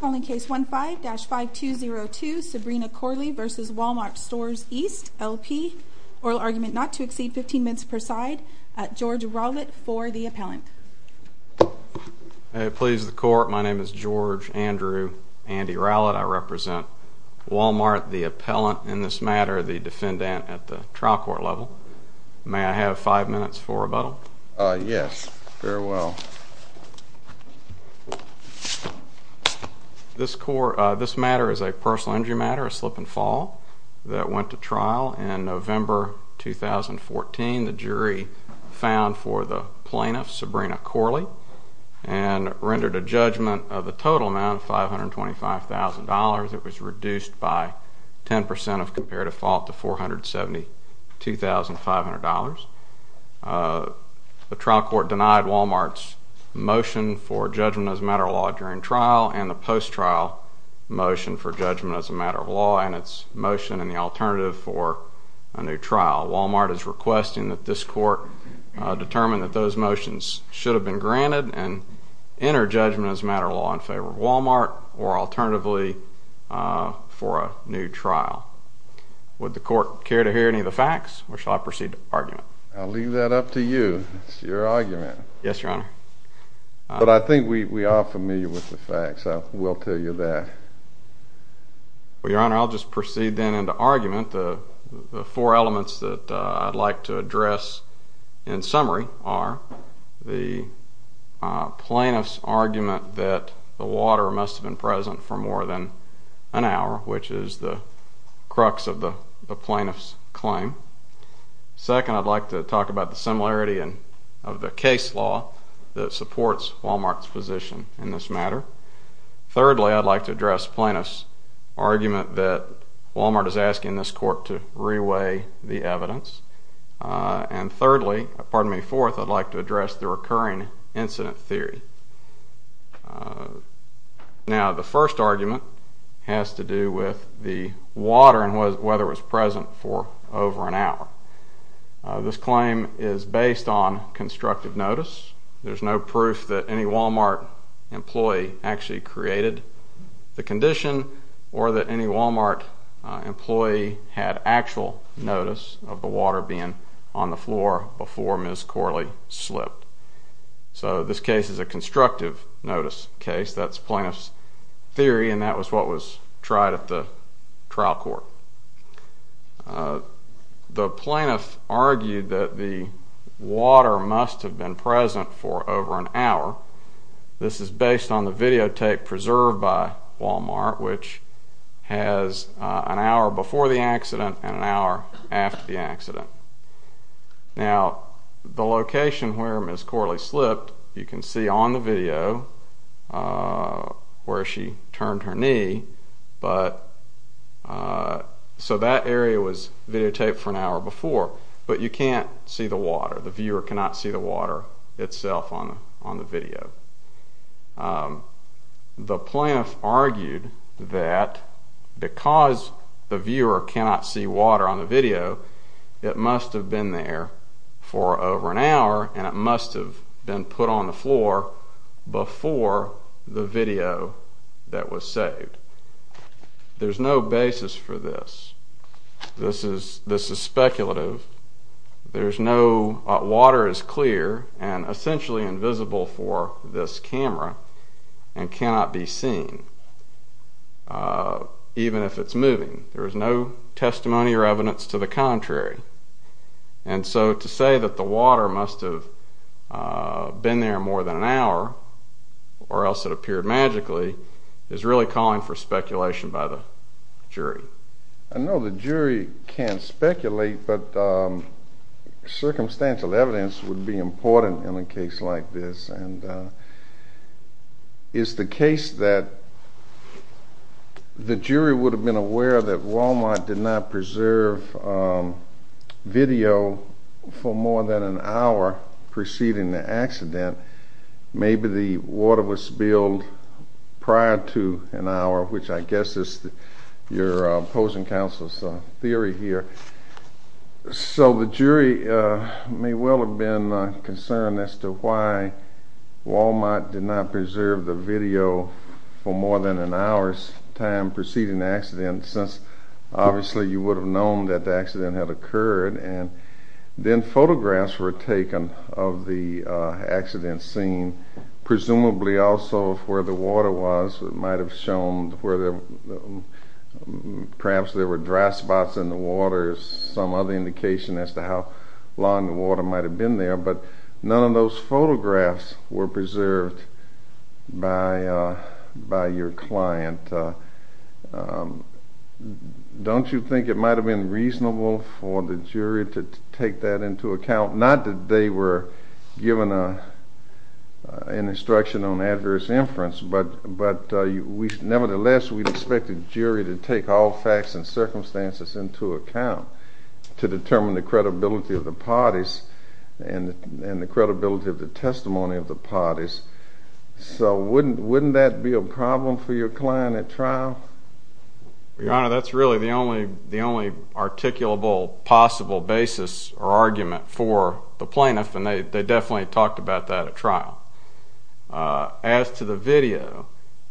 Calling case 15-5202 Sabrina Corley v. WalMart Stores East LP Oral argument not to exceed 15 minutes per side George Rowlett for the appellant Please the court, my name is George Andrew Andy Rowlett I represent WalMart, the appellant in this matter, the defendant at the trial court level May I have 5 minutes for rebuttal? Yes, farewell This matter is a personal injury matter, a slip and fall that went to trial in November 2014 The jury found for the plaintiff Sabrina Corley and rendered a judgment of a total amount of $525,000 It was reduced by 10% of comparative fault to $472,500 The trial court denied WalMart's motion for judgment as a matter of law during trial and the post-trial motion for judgment as a matter of law and its motion in the alternative for a new trial WalMart is requesting that this court determine that those motions should have been granted and enter judgment as a matter of law in favor of WalMart or alternatively for a new trial Would the court care to hear any of the facts? Or shall I proceed to argument? I'll leave that up to you, it's your argument Yes, your honor But I think we are familiar with the facts, I will tell you that Well, your honor, I'll just proceed then into argument The four elements that I'd like to address in summary are The plaintiff's argument that the water must have been present for more than an hour which is the crux of the plaintiff's claim Second, I'd like to talk about the similarity of the case law that supports WalMart's position in this matter Thirdly, I'd like to address plaintiff's argument that WalMart is asking this court to re-weigh the evidence And thirdly, pardon me, fourth, I'd like to address the recurring incident theory Now, the first argument has to do with the water and whether it was present for over an hour This claim is based on constructive notice There's no proof that any WalMart employee actually created the condition or that any WalMart employee had actual notice of the water being on the floor before Ms. Corley slipped So this case is a constructive notice case That's plaintiff's theory and that was what was tried at the trial court The plaintiff argued that the water must have been present for over an hour This is based on the videotape preserved by WalMart which has an hour before the accident and an hour after the accident Now, the location where Ms. Corley slipped, you can see on the video where she turned her knee So that area was videotaped for an hour before but you can't see the water, the viewer cannot see the water itself on the video The plaintiff argued that because the viewer cannot see water on the video it must have been there for over an hour and it must have been put on the floor before the video that was saved There's no basis for this This is speculative Water is clear and essentially invisible for this camera and cannot be seen even if it's moving There's no testimony or evidence to the contrary And so to say that the water must have been there more than an hour or else it appeared magically is really calling for speculation by the jury I know the jury can't speculate but circumstantial evidence would be important in a case like this It's the case that the jury would have been aware that WalMart did not preserve video for more than an hour preceding the accident Maybe the water was spilled prior to an hour which I guess is your opposing counsel's theory here So the jury may well have been concerned as to why WalMart did not preserve the video for more than an hour's time preceding the accident since obviously you would have known that the accident had occurred and then photographs were taken of the accident scene presumably also of where the water was perhaps there were dry spots in the water some other indication as to how long the water might have been there but none of those photographs were preserved by your client Don't you think it might have been reasonable for the jury to take that into account not that they were given an instruction on adverse inference but nevertheless we'd expect the jury to take all facts and circumstances into account to determine the credibility of the parties and the credibility of the testimony of the parties so wouldn't that be a problem for your client at trial? Your Honor, that's really the only articulable possible basis or argument for the plaintiff and they definitely talked about that at trial As to the video,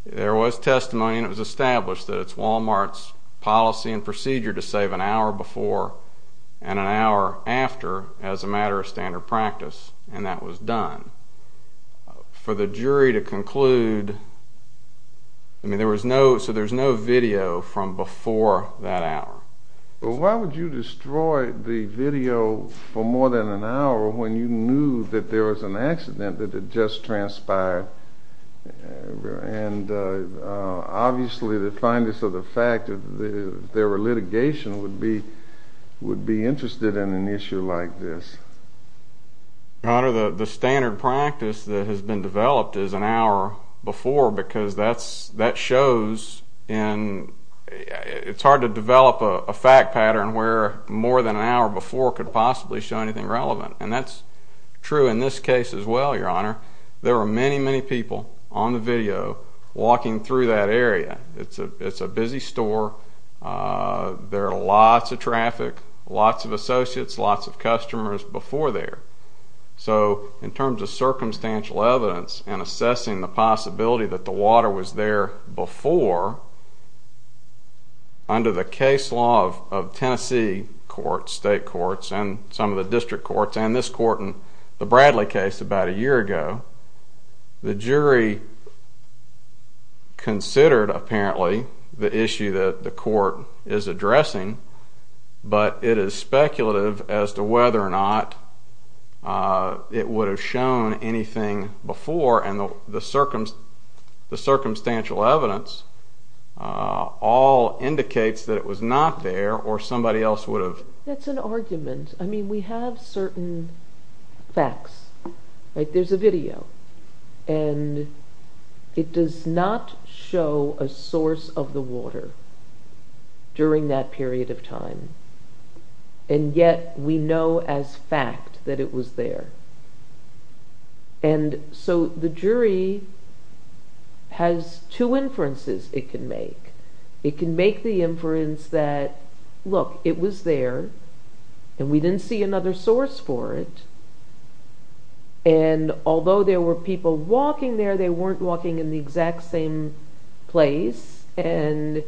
there was testimony and it was established that it's WalMart's policy and procedure to save an hour before and an hour after as a matter of standard practice and that was done for the jury to conclude I mean there was no video from before that hour Well why would you destroy the video for more than an hour when you knew that there was an accident that had just transpired and obviously the fineness of the fact that there were litigation would be interested in an issue like this Your Honor, the standard practice that has been developed is an hour before because that shows it's hard to develop a fact pattern where more than an hour before could possibly show anything relevant and that's true in this case as well, Your Honor There were many, many people on the video walking through that area It's a busy store There are lots of traffic, lots of associates, lots of customers before there So in terms of circumstantial evidence and assessing the possibility that the water was there before under the case law of Tennessee courts, state courts and some of the district courts and this court in the Bradley case about a year ago the jury considered apparently the issue that the court is addressing but it is speculative as to whether or not it would have shown anything before and the circumstantial evidence all indicates that it was not there or somebody else would have That's an argument I mean we have certain facts There's a video and it does not show a source of the water during that period of time and yet we know as fact that it was there and so the jury has two inferences it can make It can make the inference that look, it was there and we didn't see another source for it and although there were people walking there they weren't walking in the exact same place and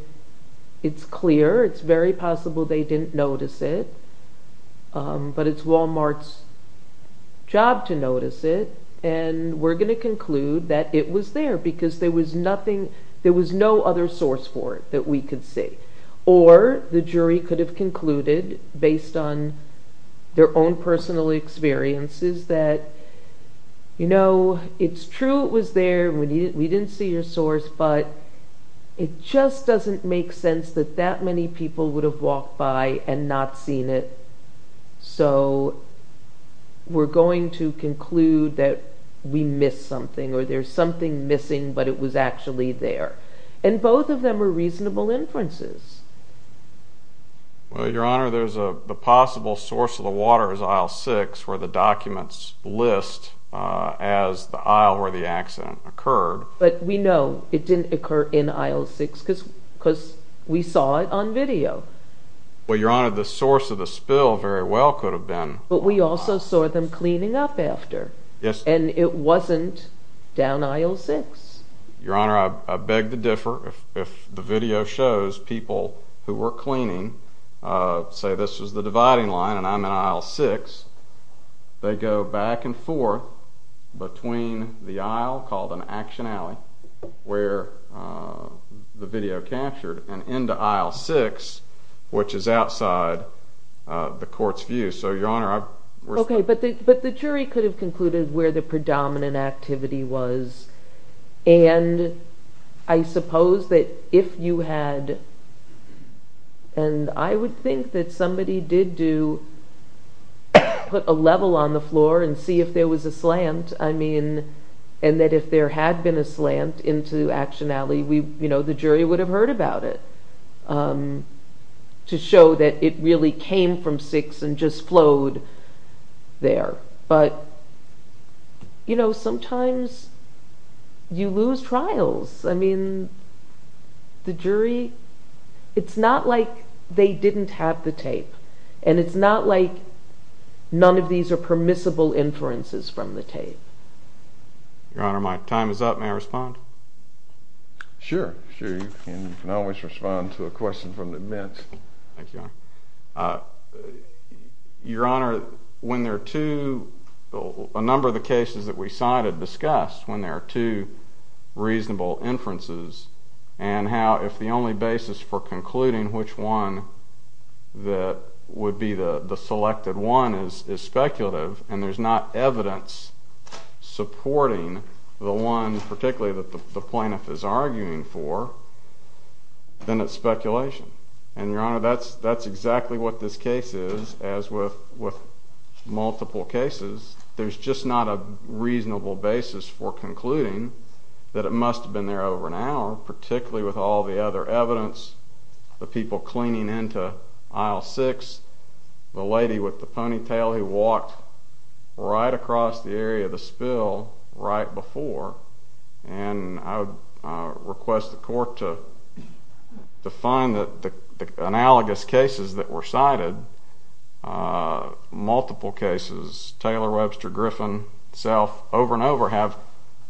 it's clear, it's very possible they didn't notice it but it's Walmart's job to notice it and we're going to conclude that it was there because there was no other source for it that we could see or the jury could have concluded based on their own personal experiences that it's true it was there we didn't see your source but it just doesn't make sense that that many people would have walked by and not seen it so we're going to conclude that we missed something or there's something missing but it was actually there and both of them are reasonable inferences Well your honor there's a possible source of the water is aisle 6 where the documents list as the aisle where the accident occurred But we know it didn't occur in aisle 6 because we saw it on video Well your honor the source of the spill very well could have been But we also saw them cleaning up after and it wasn't down aisle 6 Your honor I beg to differ if the video shows people who were cleaning say this was the dividing line and I'm in aisle 6 they go back and forth between the aisle called an action alley where the video captured and into aisle 6 which is outside the court's view But the jury could have concluded where the predominant activity was and I suppose that if you had and I would think that somebody did do put a level on the floor and see if there was a slant and that if there had been a slant into action alley the jury would have heard about it to show that it really came from 6 and just flowed there But you know sometimes you lose trials I mean the jury it's not like they didn't have the tape and it's not like none of these are permissible inferences from the tape Your honor my time is up may I respond Sure, sure you can always respond to a question from the bench Thank you your honor when there are two a number of the cases that we cited discussed when there are two reasonable inferences and how if the only basis for concluding which one would be the selected one is speculative and there's not evidence supporting the one particularly that the plaintiff is arguing for then it's speculation and your honor that's exactly what this case is as with multiple cases there's just not a reasonable basis for concluding that it must have been there over an hour particularly with all the other evidence the people cleaning into aisle 6 the lady with the ponytail who walked right across the area of the spill right before and I would request the court to find the analogous cases that were cited multiple cases Taylor, Webster, Griffin, Self over and over have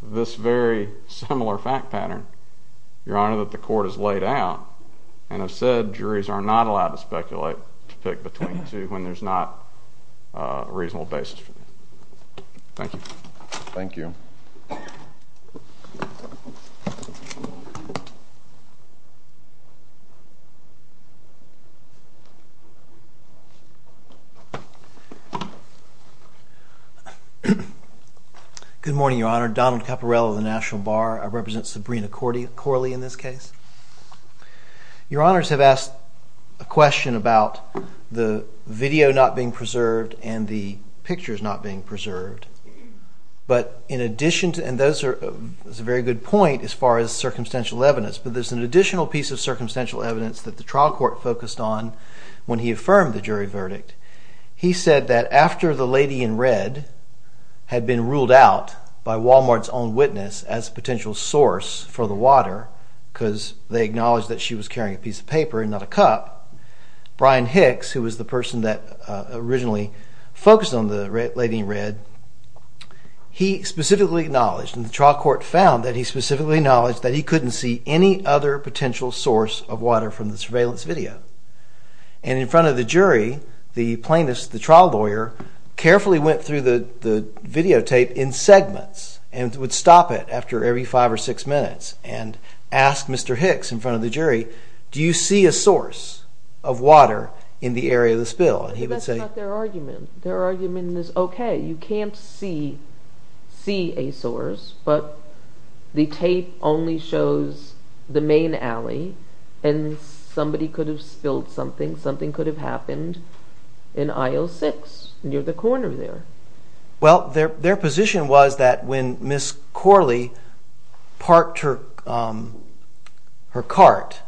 this very similar fact pattern your honor that the court has laid out and I've said juries are not allowed to speculate when there's not a reasonable basis Thank you Good morning your honor Donald Caporello of the National Bar I represent Sabrina Corley in this case your honors have asked a question about the video not being preserved and the pictures not being preserved and that's a very good point as far as circumstantial evidence but there's an additional piece of circumstantial evidence that the trial court focused on when he affirmed the jury verdict. He said that after the lady in red had been ruled out by Walmart's own witness as a potential source for the water because they acknowledged that she was carrying a piece of paper and not a cup Brian Hicks who was the person that originally focused on the lady in red he specifically acknowledged and the trial court found that he specifically acknowledged that he couldn't see any other potential source of water from the surveillance video and in front of the jury the plaintiff's the trial lawyer carefully went through the videotape in segments and would stop it after every five or six minutes and ask Mr. Hicks in front of the jury do you see a source of water in the area of the spill and he would say That's not their argument. Their argument is okay you can't see see a source but the tape only shows the main alley and somebody could have spilled something something could have happened in aisle 6 near the corner there. Well their position was that when Ms. Corley parked her cart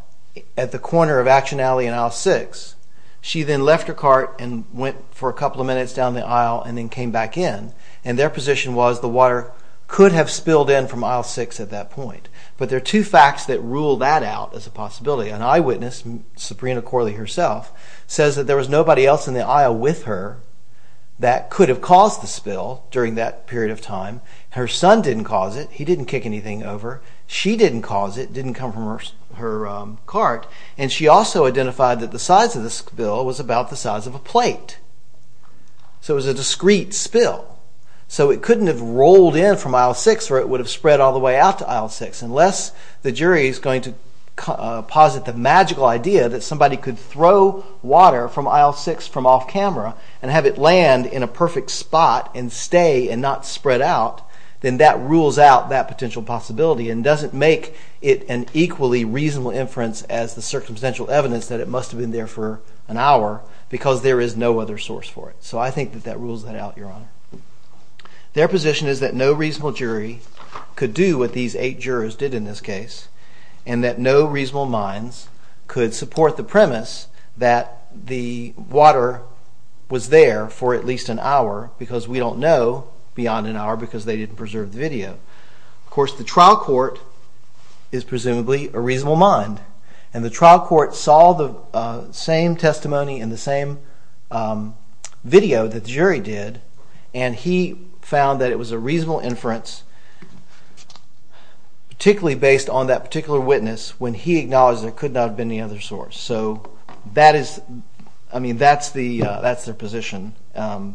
at the corner of Action Alley and aisle 6 she then left her cart and went for a couple of minutes down the aisle and then came back in and their position was the water could have spilled in from aisle 6 at that point but there are two facts that rule that out as a possibility an eyewitness Sabrina Corley herself says that there was nobody else in the aisle with her that could have caused the spill during that period of time her son didn't cause it he didn't kick anything over she didn't cause it didn't come from her cart and she also identified that the size of the spill was about the size of a plate so it was a discreet spill so it couldn't have rolled in from aisle 6 or it would have spread all the way out to aisle 6 unless the jury is going to posit the magical idea that somebody could throw water from aisle 6 from off camera and have it land in a perfect spot and stay and not spread out then that rules out that potential possibility and doesn't make it an equally reasonable inference as the circumstantial evidence that it must have been there for an hour because there is no other source for it so I think that that rules that out your honor. Their position is that no jurors did in this case and that no reasonable minds could support the premise that the water was there for at least an hour because we don't know beyond an hour because they didn't preserve the video. Of course the trial court is presumably a reasonable mind and the trial court saw the same testimony and the same video that the jury did and he found that it was a reasonable inference particularly based on that particular witness when he acknowledged there could not have been any other source so that is I mean that's their position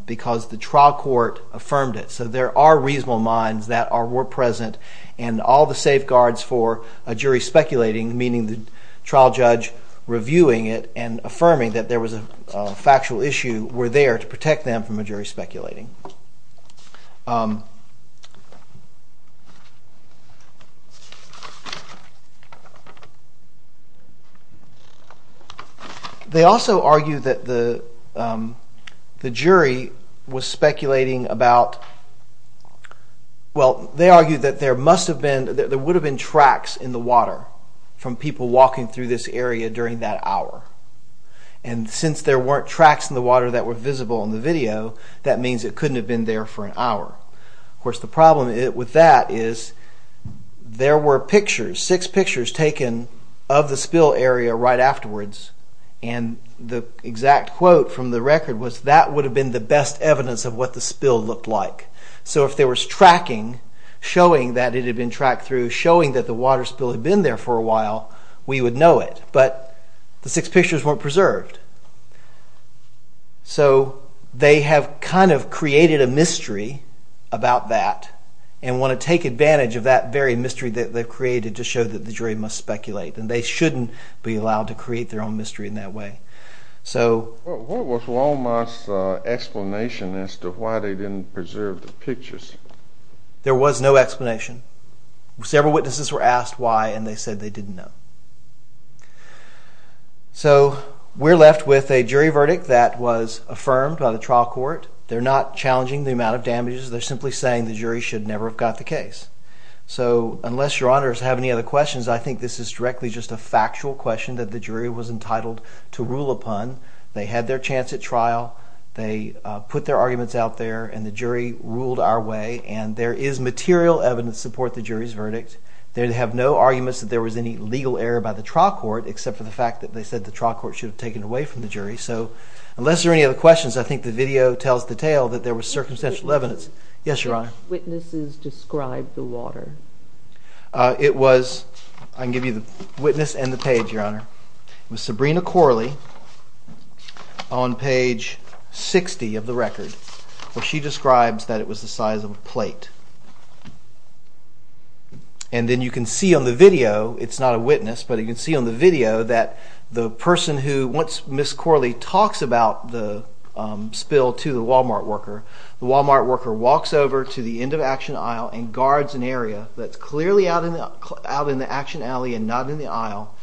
because the trial court affirmed it so there are reasonable minds that were present and all the safeguards for a jury speculating meaning the trial judge reviewing it and affirming that there was a factual issue were there to protect them from a jury speculating. They also argued that the jury was speculating about well they argued that there must have been there would have been tracks in the water from people walking through this area during that hour and since there weren't tracks in the water that were visible a jury speculating. The jury also argued that couldn't have been there for an hour. Of course the problem with that is there were pictures six pictures taken of the spill area right afterwards and the exact quote from the record was that would have been the best evidence of what the spill looked like. So if there was tracking showing that it had been tracked through showing that the water spill had been there for a while we would know it but the six pictures weren't preserved. So they have kind of created a mystery about that and want to take advantage of that very mystery that they've created to show that the jury must speculate and they shouldn't be allowed to create their own mystery in that way. What was Longmont's explanation as to why they didn't preserve the pictures? There was no explanation. Several witnesses were asked why and they said they didn't know. So we're left with a jury verdict that was affirmed by the trial court. They're not challenging the amount of damages. They're simply saying the jury should never have got the case. So unless your honors have any other questions I think this is directly just a factual question that the jury was entitled to rule upon. They had their chance at trial. They put their arguments out there and the jury ruled our way and there is material evidence to support the jury's verdict. They have no arguments that there was any legal error by the trial court except for the fact that they said the trial court should have taken away from the jury. So unless there are any other questions I think the video tells the tale that there was circumstantial evidence. Yes, your honor. Which witnesses described the water? It was, I can give you the witness and the page, your honor. It was Sabrina Corley on page 60 of the record where she describes that it was the size of a plate. And then you can see on the video, it's not a witness, but you can see on the video that the person who, once Ms. Corley talks about the spill to the Walmart worker, the Walmart worker walks over to the end of Action Aisle and guards an area that's clearly out in the Action Alley and not in the aisle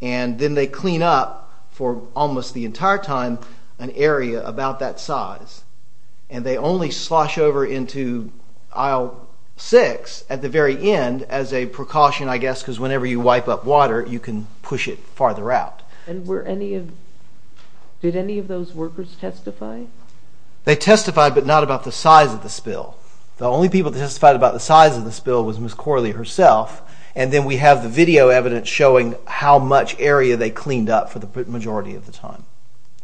and then they clean up for almost the entire time an area about that size. And they only slosh over into aisle 6 at the very end as a precaution I guess because whenever you wipe up water you can push it farther out. Did any of those workers testify? They testified, but not about the size of the spill. The only people that testified about the size of the spill was Ms. Corley herself. And then we have the video evidence showing how much area they cleaned up for the majority of the time.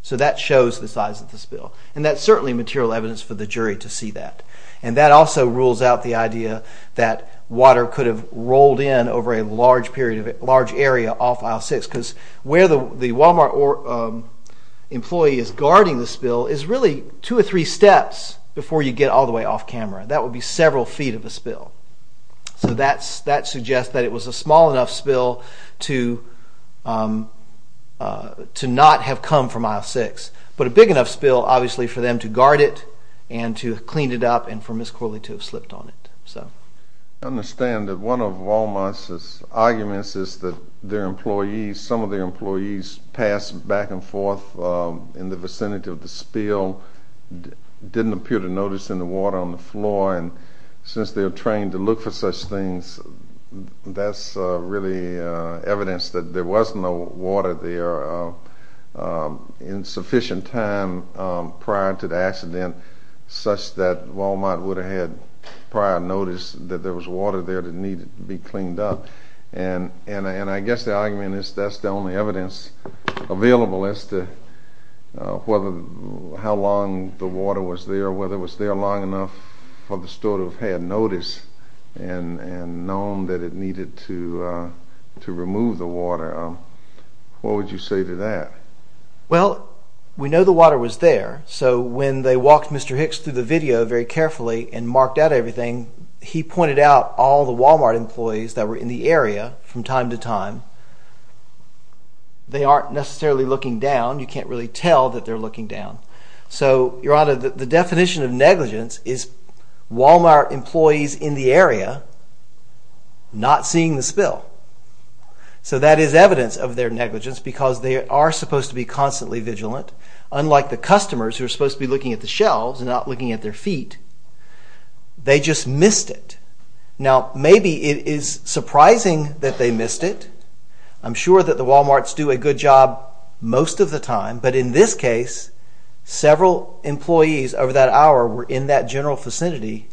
So that shows the size of the spill. And that's certainly material evidence for the jury to see that. And that also rules out the idea that water could have rolled in over a large area off aisle 6 because where the Walmart employee is guarding the spill is really two or three steps before you get all the way off camera. That would be several feet of a spill. So that suggests that it was a small enough spill to not have come from aisle 6. But a big enough spill obviously for them to guard it and to have cleaned it up and for Ms. Corley to have slipped on it. I understand that one of Walmart's arguments is that some of their employees passed back and forth in the vicinity of the spill didn't appear to notice any water on the floor and since they're trained to look for such things that's really evidence that there was no water there in sufficient time prior to the accident such that Walmart would have had prior notice that there was water there that needed to be cleaned up. And I guess the argument is that's the only evidence available as to how long the water was there, whether it was there long enough for the store to have had notice and known that it needed to remove the water. What would you say to that? Well, we know the water was there, so when they walked Mr. Hicks through the video very carefully and marked out everything, he pointed out all the Walmart employees that were in the area from time to time they aren't necessarily looking down. You can't really tell that they're looking down. So, Your Honor, the definition of negligence is Walmart employees in the area not seeing the spill. So that is evidence of their negligence because they are supposed to be constantly vigilant, unlike the customers who are supposed to be looking at the shelves and not looking at their feet. They just missed it. Now, maybe it is surprising that they missed it. I'm sure that the Walmarts do a good job most of the time, but in this case, several employees over that hour were in that general vicinity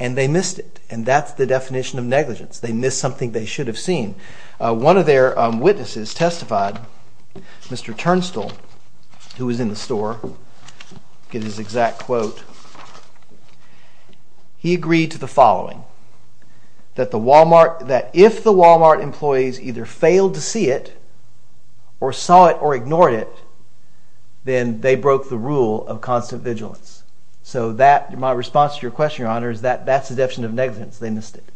and they missed it. And that's the definition of negligence. They missed something they should have seen. One of their witnesses testified, Mr. Turnstile, who was in the store, get his exact quote. He agreed to the following, that if the Walmart employees either failed to see it or saw it or ignored it, then they broke the rule of constant vigilance. So that, my response to your question, Your Honor, is that that's the definition of negligence. They missed it.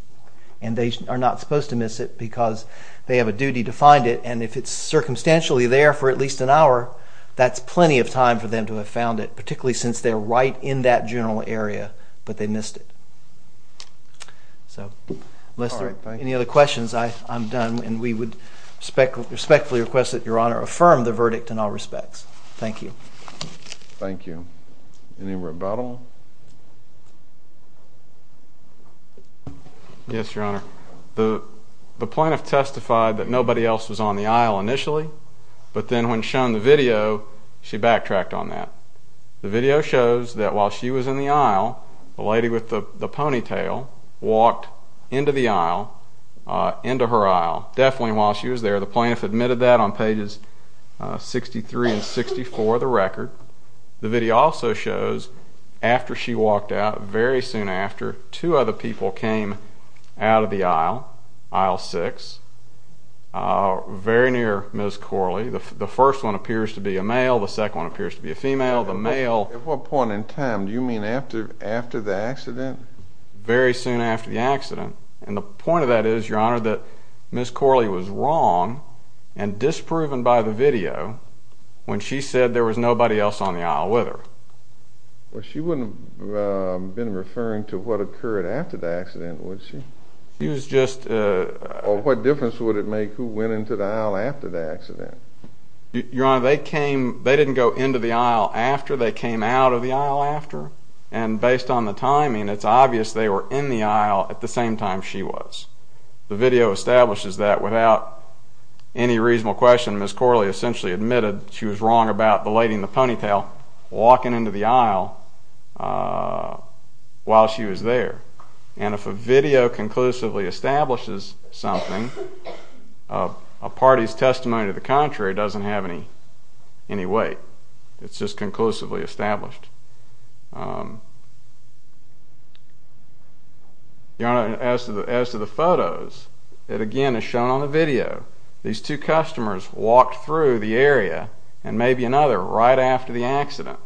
And they are not supposed to miss it because they have a duty to find it and if it's circumstantially there for at least an hour, that's plenty of time for them to have found it, particularly since they're right in that general area, but they missed it. So, unless there are any other questions, I'm done and we would respectfully request that Your Honor affirm the verdict in all respects. Thank you. Thank you. Any rebuttal? Yes, Your Honor. The plaintiff testified that nobody else was on the aisle initially, but then when shown the video, she backtracked on that. The video shows that while she was in the aisle, the lady with the ponytail walked into the aisle, into her aisle, definitely while she was there. The plaintiff admitted that on pages 63 and 64 of the record. The video also shows after she walked out, very soon after, two other people came out of the aisle, aisle 6, very near Ms. Corley. The first one appears to be a male, the second one appears to be a female. The male... At what point in time? Do you mean after the accident? Very soon after the accident. And the point of that is, Your Honor, that Ms. Corley was wrong and disproven by the video when she said there was nobody else on the aisle with her. Well, she wouldn't have been referring to what occurred after the accident, would she? She was just... Or what difference would it make who went into the aisle after the accident? Your Honor, they came... They didn't go into the aisle after, they came out of the aisle after. And based on the time she was. The video establishes that without any reasonable question, Ms. Corley essentially admitted she was wrong about the lady in the ponytail walking into the aisle while she was there. And if a video conclusively establishes something, a party's testimony to the contrary doesn't have any weight. It's just conclusively established. Your Honor, as to the photos, it again is shown on the video. These two customers walked through the area and maybe another right after the accident.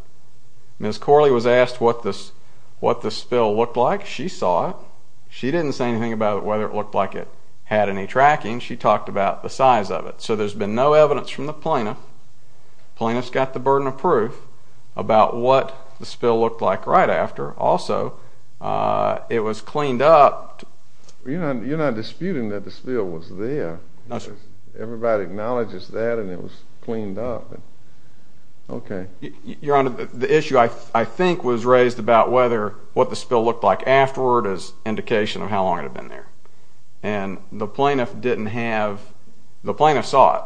Ms. Corley was asked what the spill looked like. She saw it. She didn't say anything about whether it looked like it had any tracking. She talked about the size of it. So there's been no evidence from the plaintiff. Plaintiff's got the burden of proof about what the spill looked like right after. Also, it was cleaned up... You're not disputing that the spill was there. Everybody acknowledges that and it was cleaned up. Okay. Your Honor, the issue I think was raised about whether what the spill looked like afterward is indication of how long it had been there. And the plaintiff didn't have... The plaintiff saw it.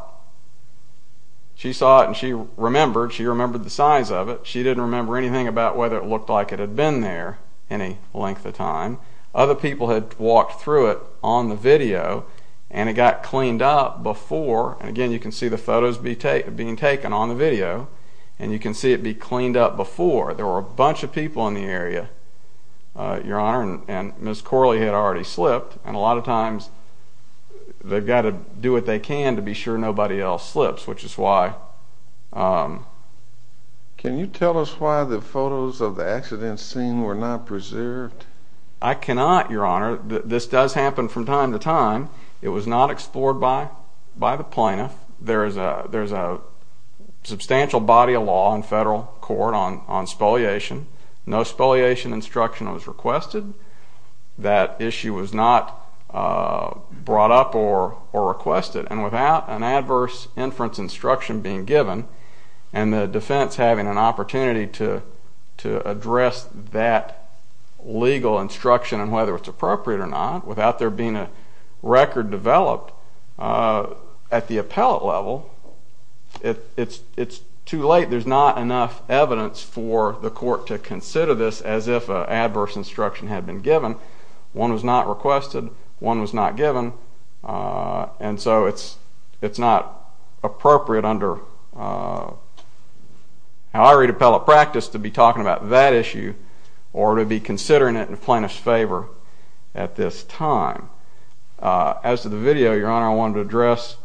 She saw it and she remembered. She remembered the size of it. She didn't remember anything about whether it looked like it had been there any length of time. Other people had walked through it on the video and it got cleaned up before. And again, you can see the photos being taken on the video. And you can see it be cleaned up before. There were a bunch of people in the area, Your Honor, and Ms. Corley had already slipped. And a lot of times they've got to do what they can to be sure nobody else slips, which is why... Can you tell us why the photos of the accident scene were not preserved? I cannot, Your Honor. This does happen from time to time. It was not explored by the plaintiff. There's a substantial body of law in federal court on spoliation. No spoliation instruction was requested. That issue was not brought up or requested. And without an adverse inference instruction being given and the defense having an opportunity to address that legal instruction and whether it's appropriate or not, without there being a record developed at the appellate level, it's too late. There's not enough evidence for the court to consider this as if an adverse instruction had been given. One was not requested. One was not given. And so it's not appropriate under how I read appellate practice to be talking about that issue or to be considering it in plaintiff's favor at this time. As to the video, Your Honor, I wanted to address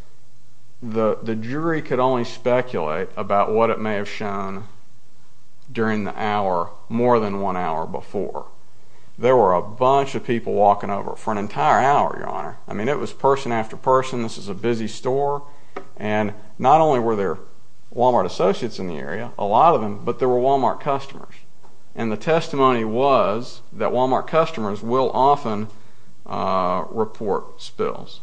the jury could only speculate about what it may have shown during the hour more than one hour before. There were a bunch of people walking over for an entire hour, Your Honor. I mean, it was person after person. This is a busy store. And not only were there Walmart associates in the area, a lot of them, but there were Walmart customers. And the testimony was that Walmart customers will often report spills.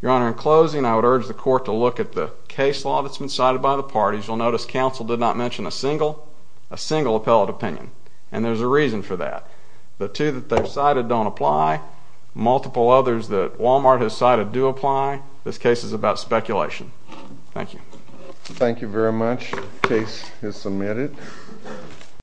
Your Honor, in closing, I would urge the court to look at the case law that's been cited by the parties. You'll notice counsel did not mention a single appellate opinion. And there's a reason for that. The two that they've cited don't apply. Multiple others that Walmart has cited do apply. This case is about speculation. Thank you. Thank you very much. Case is submitted.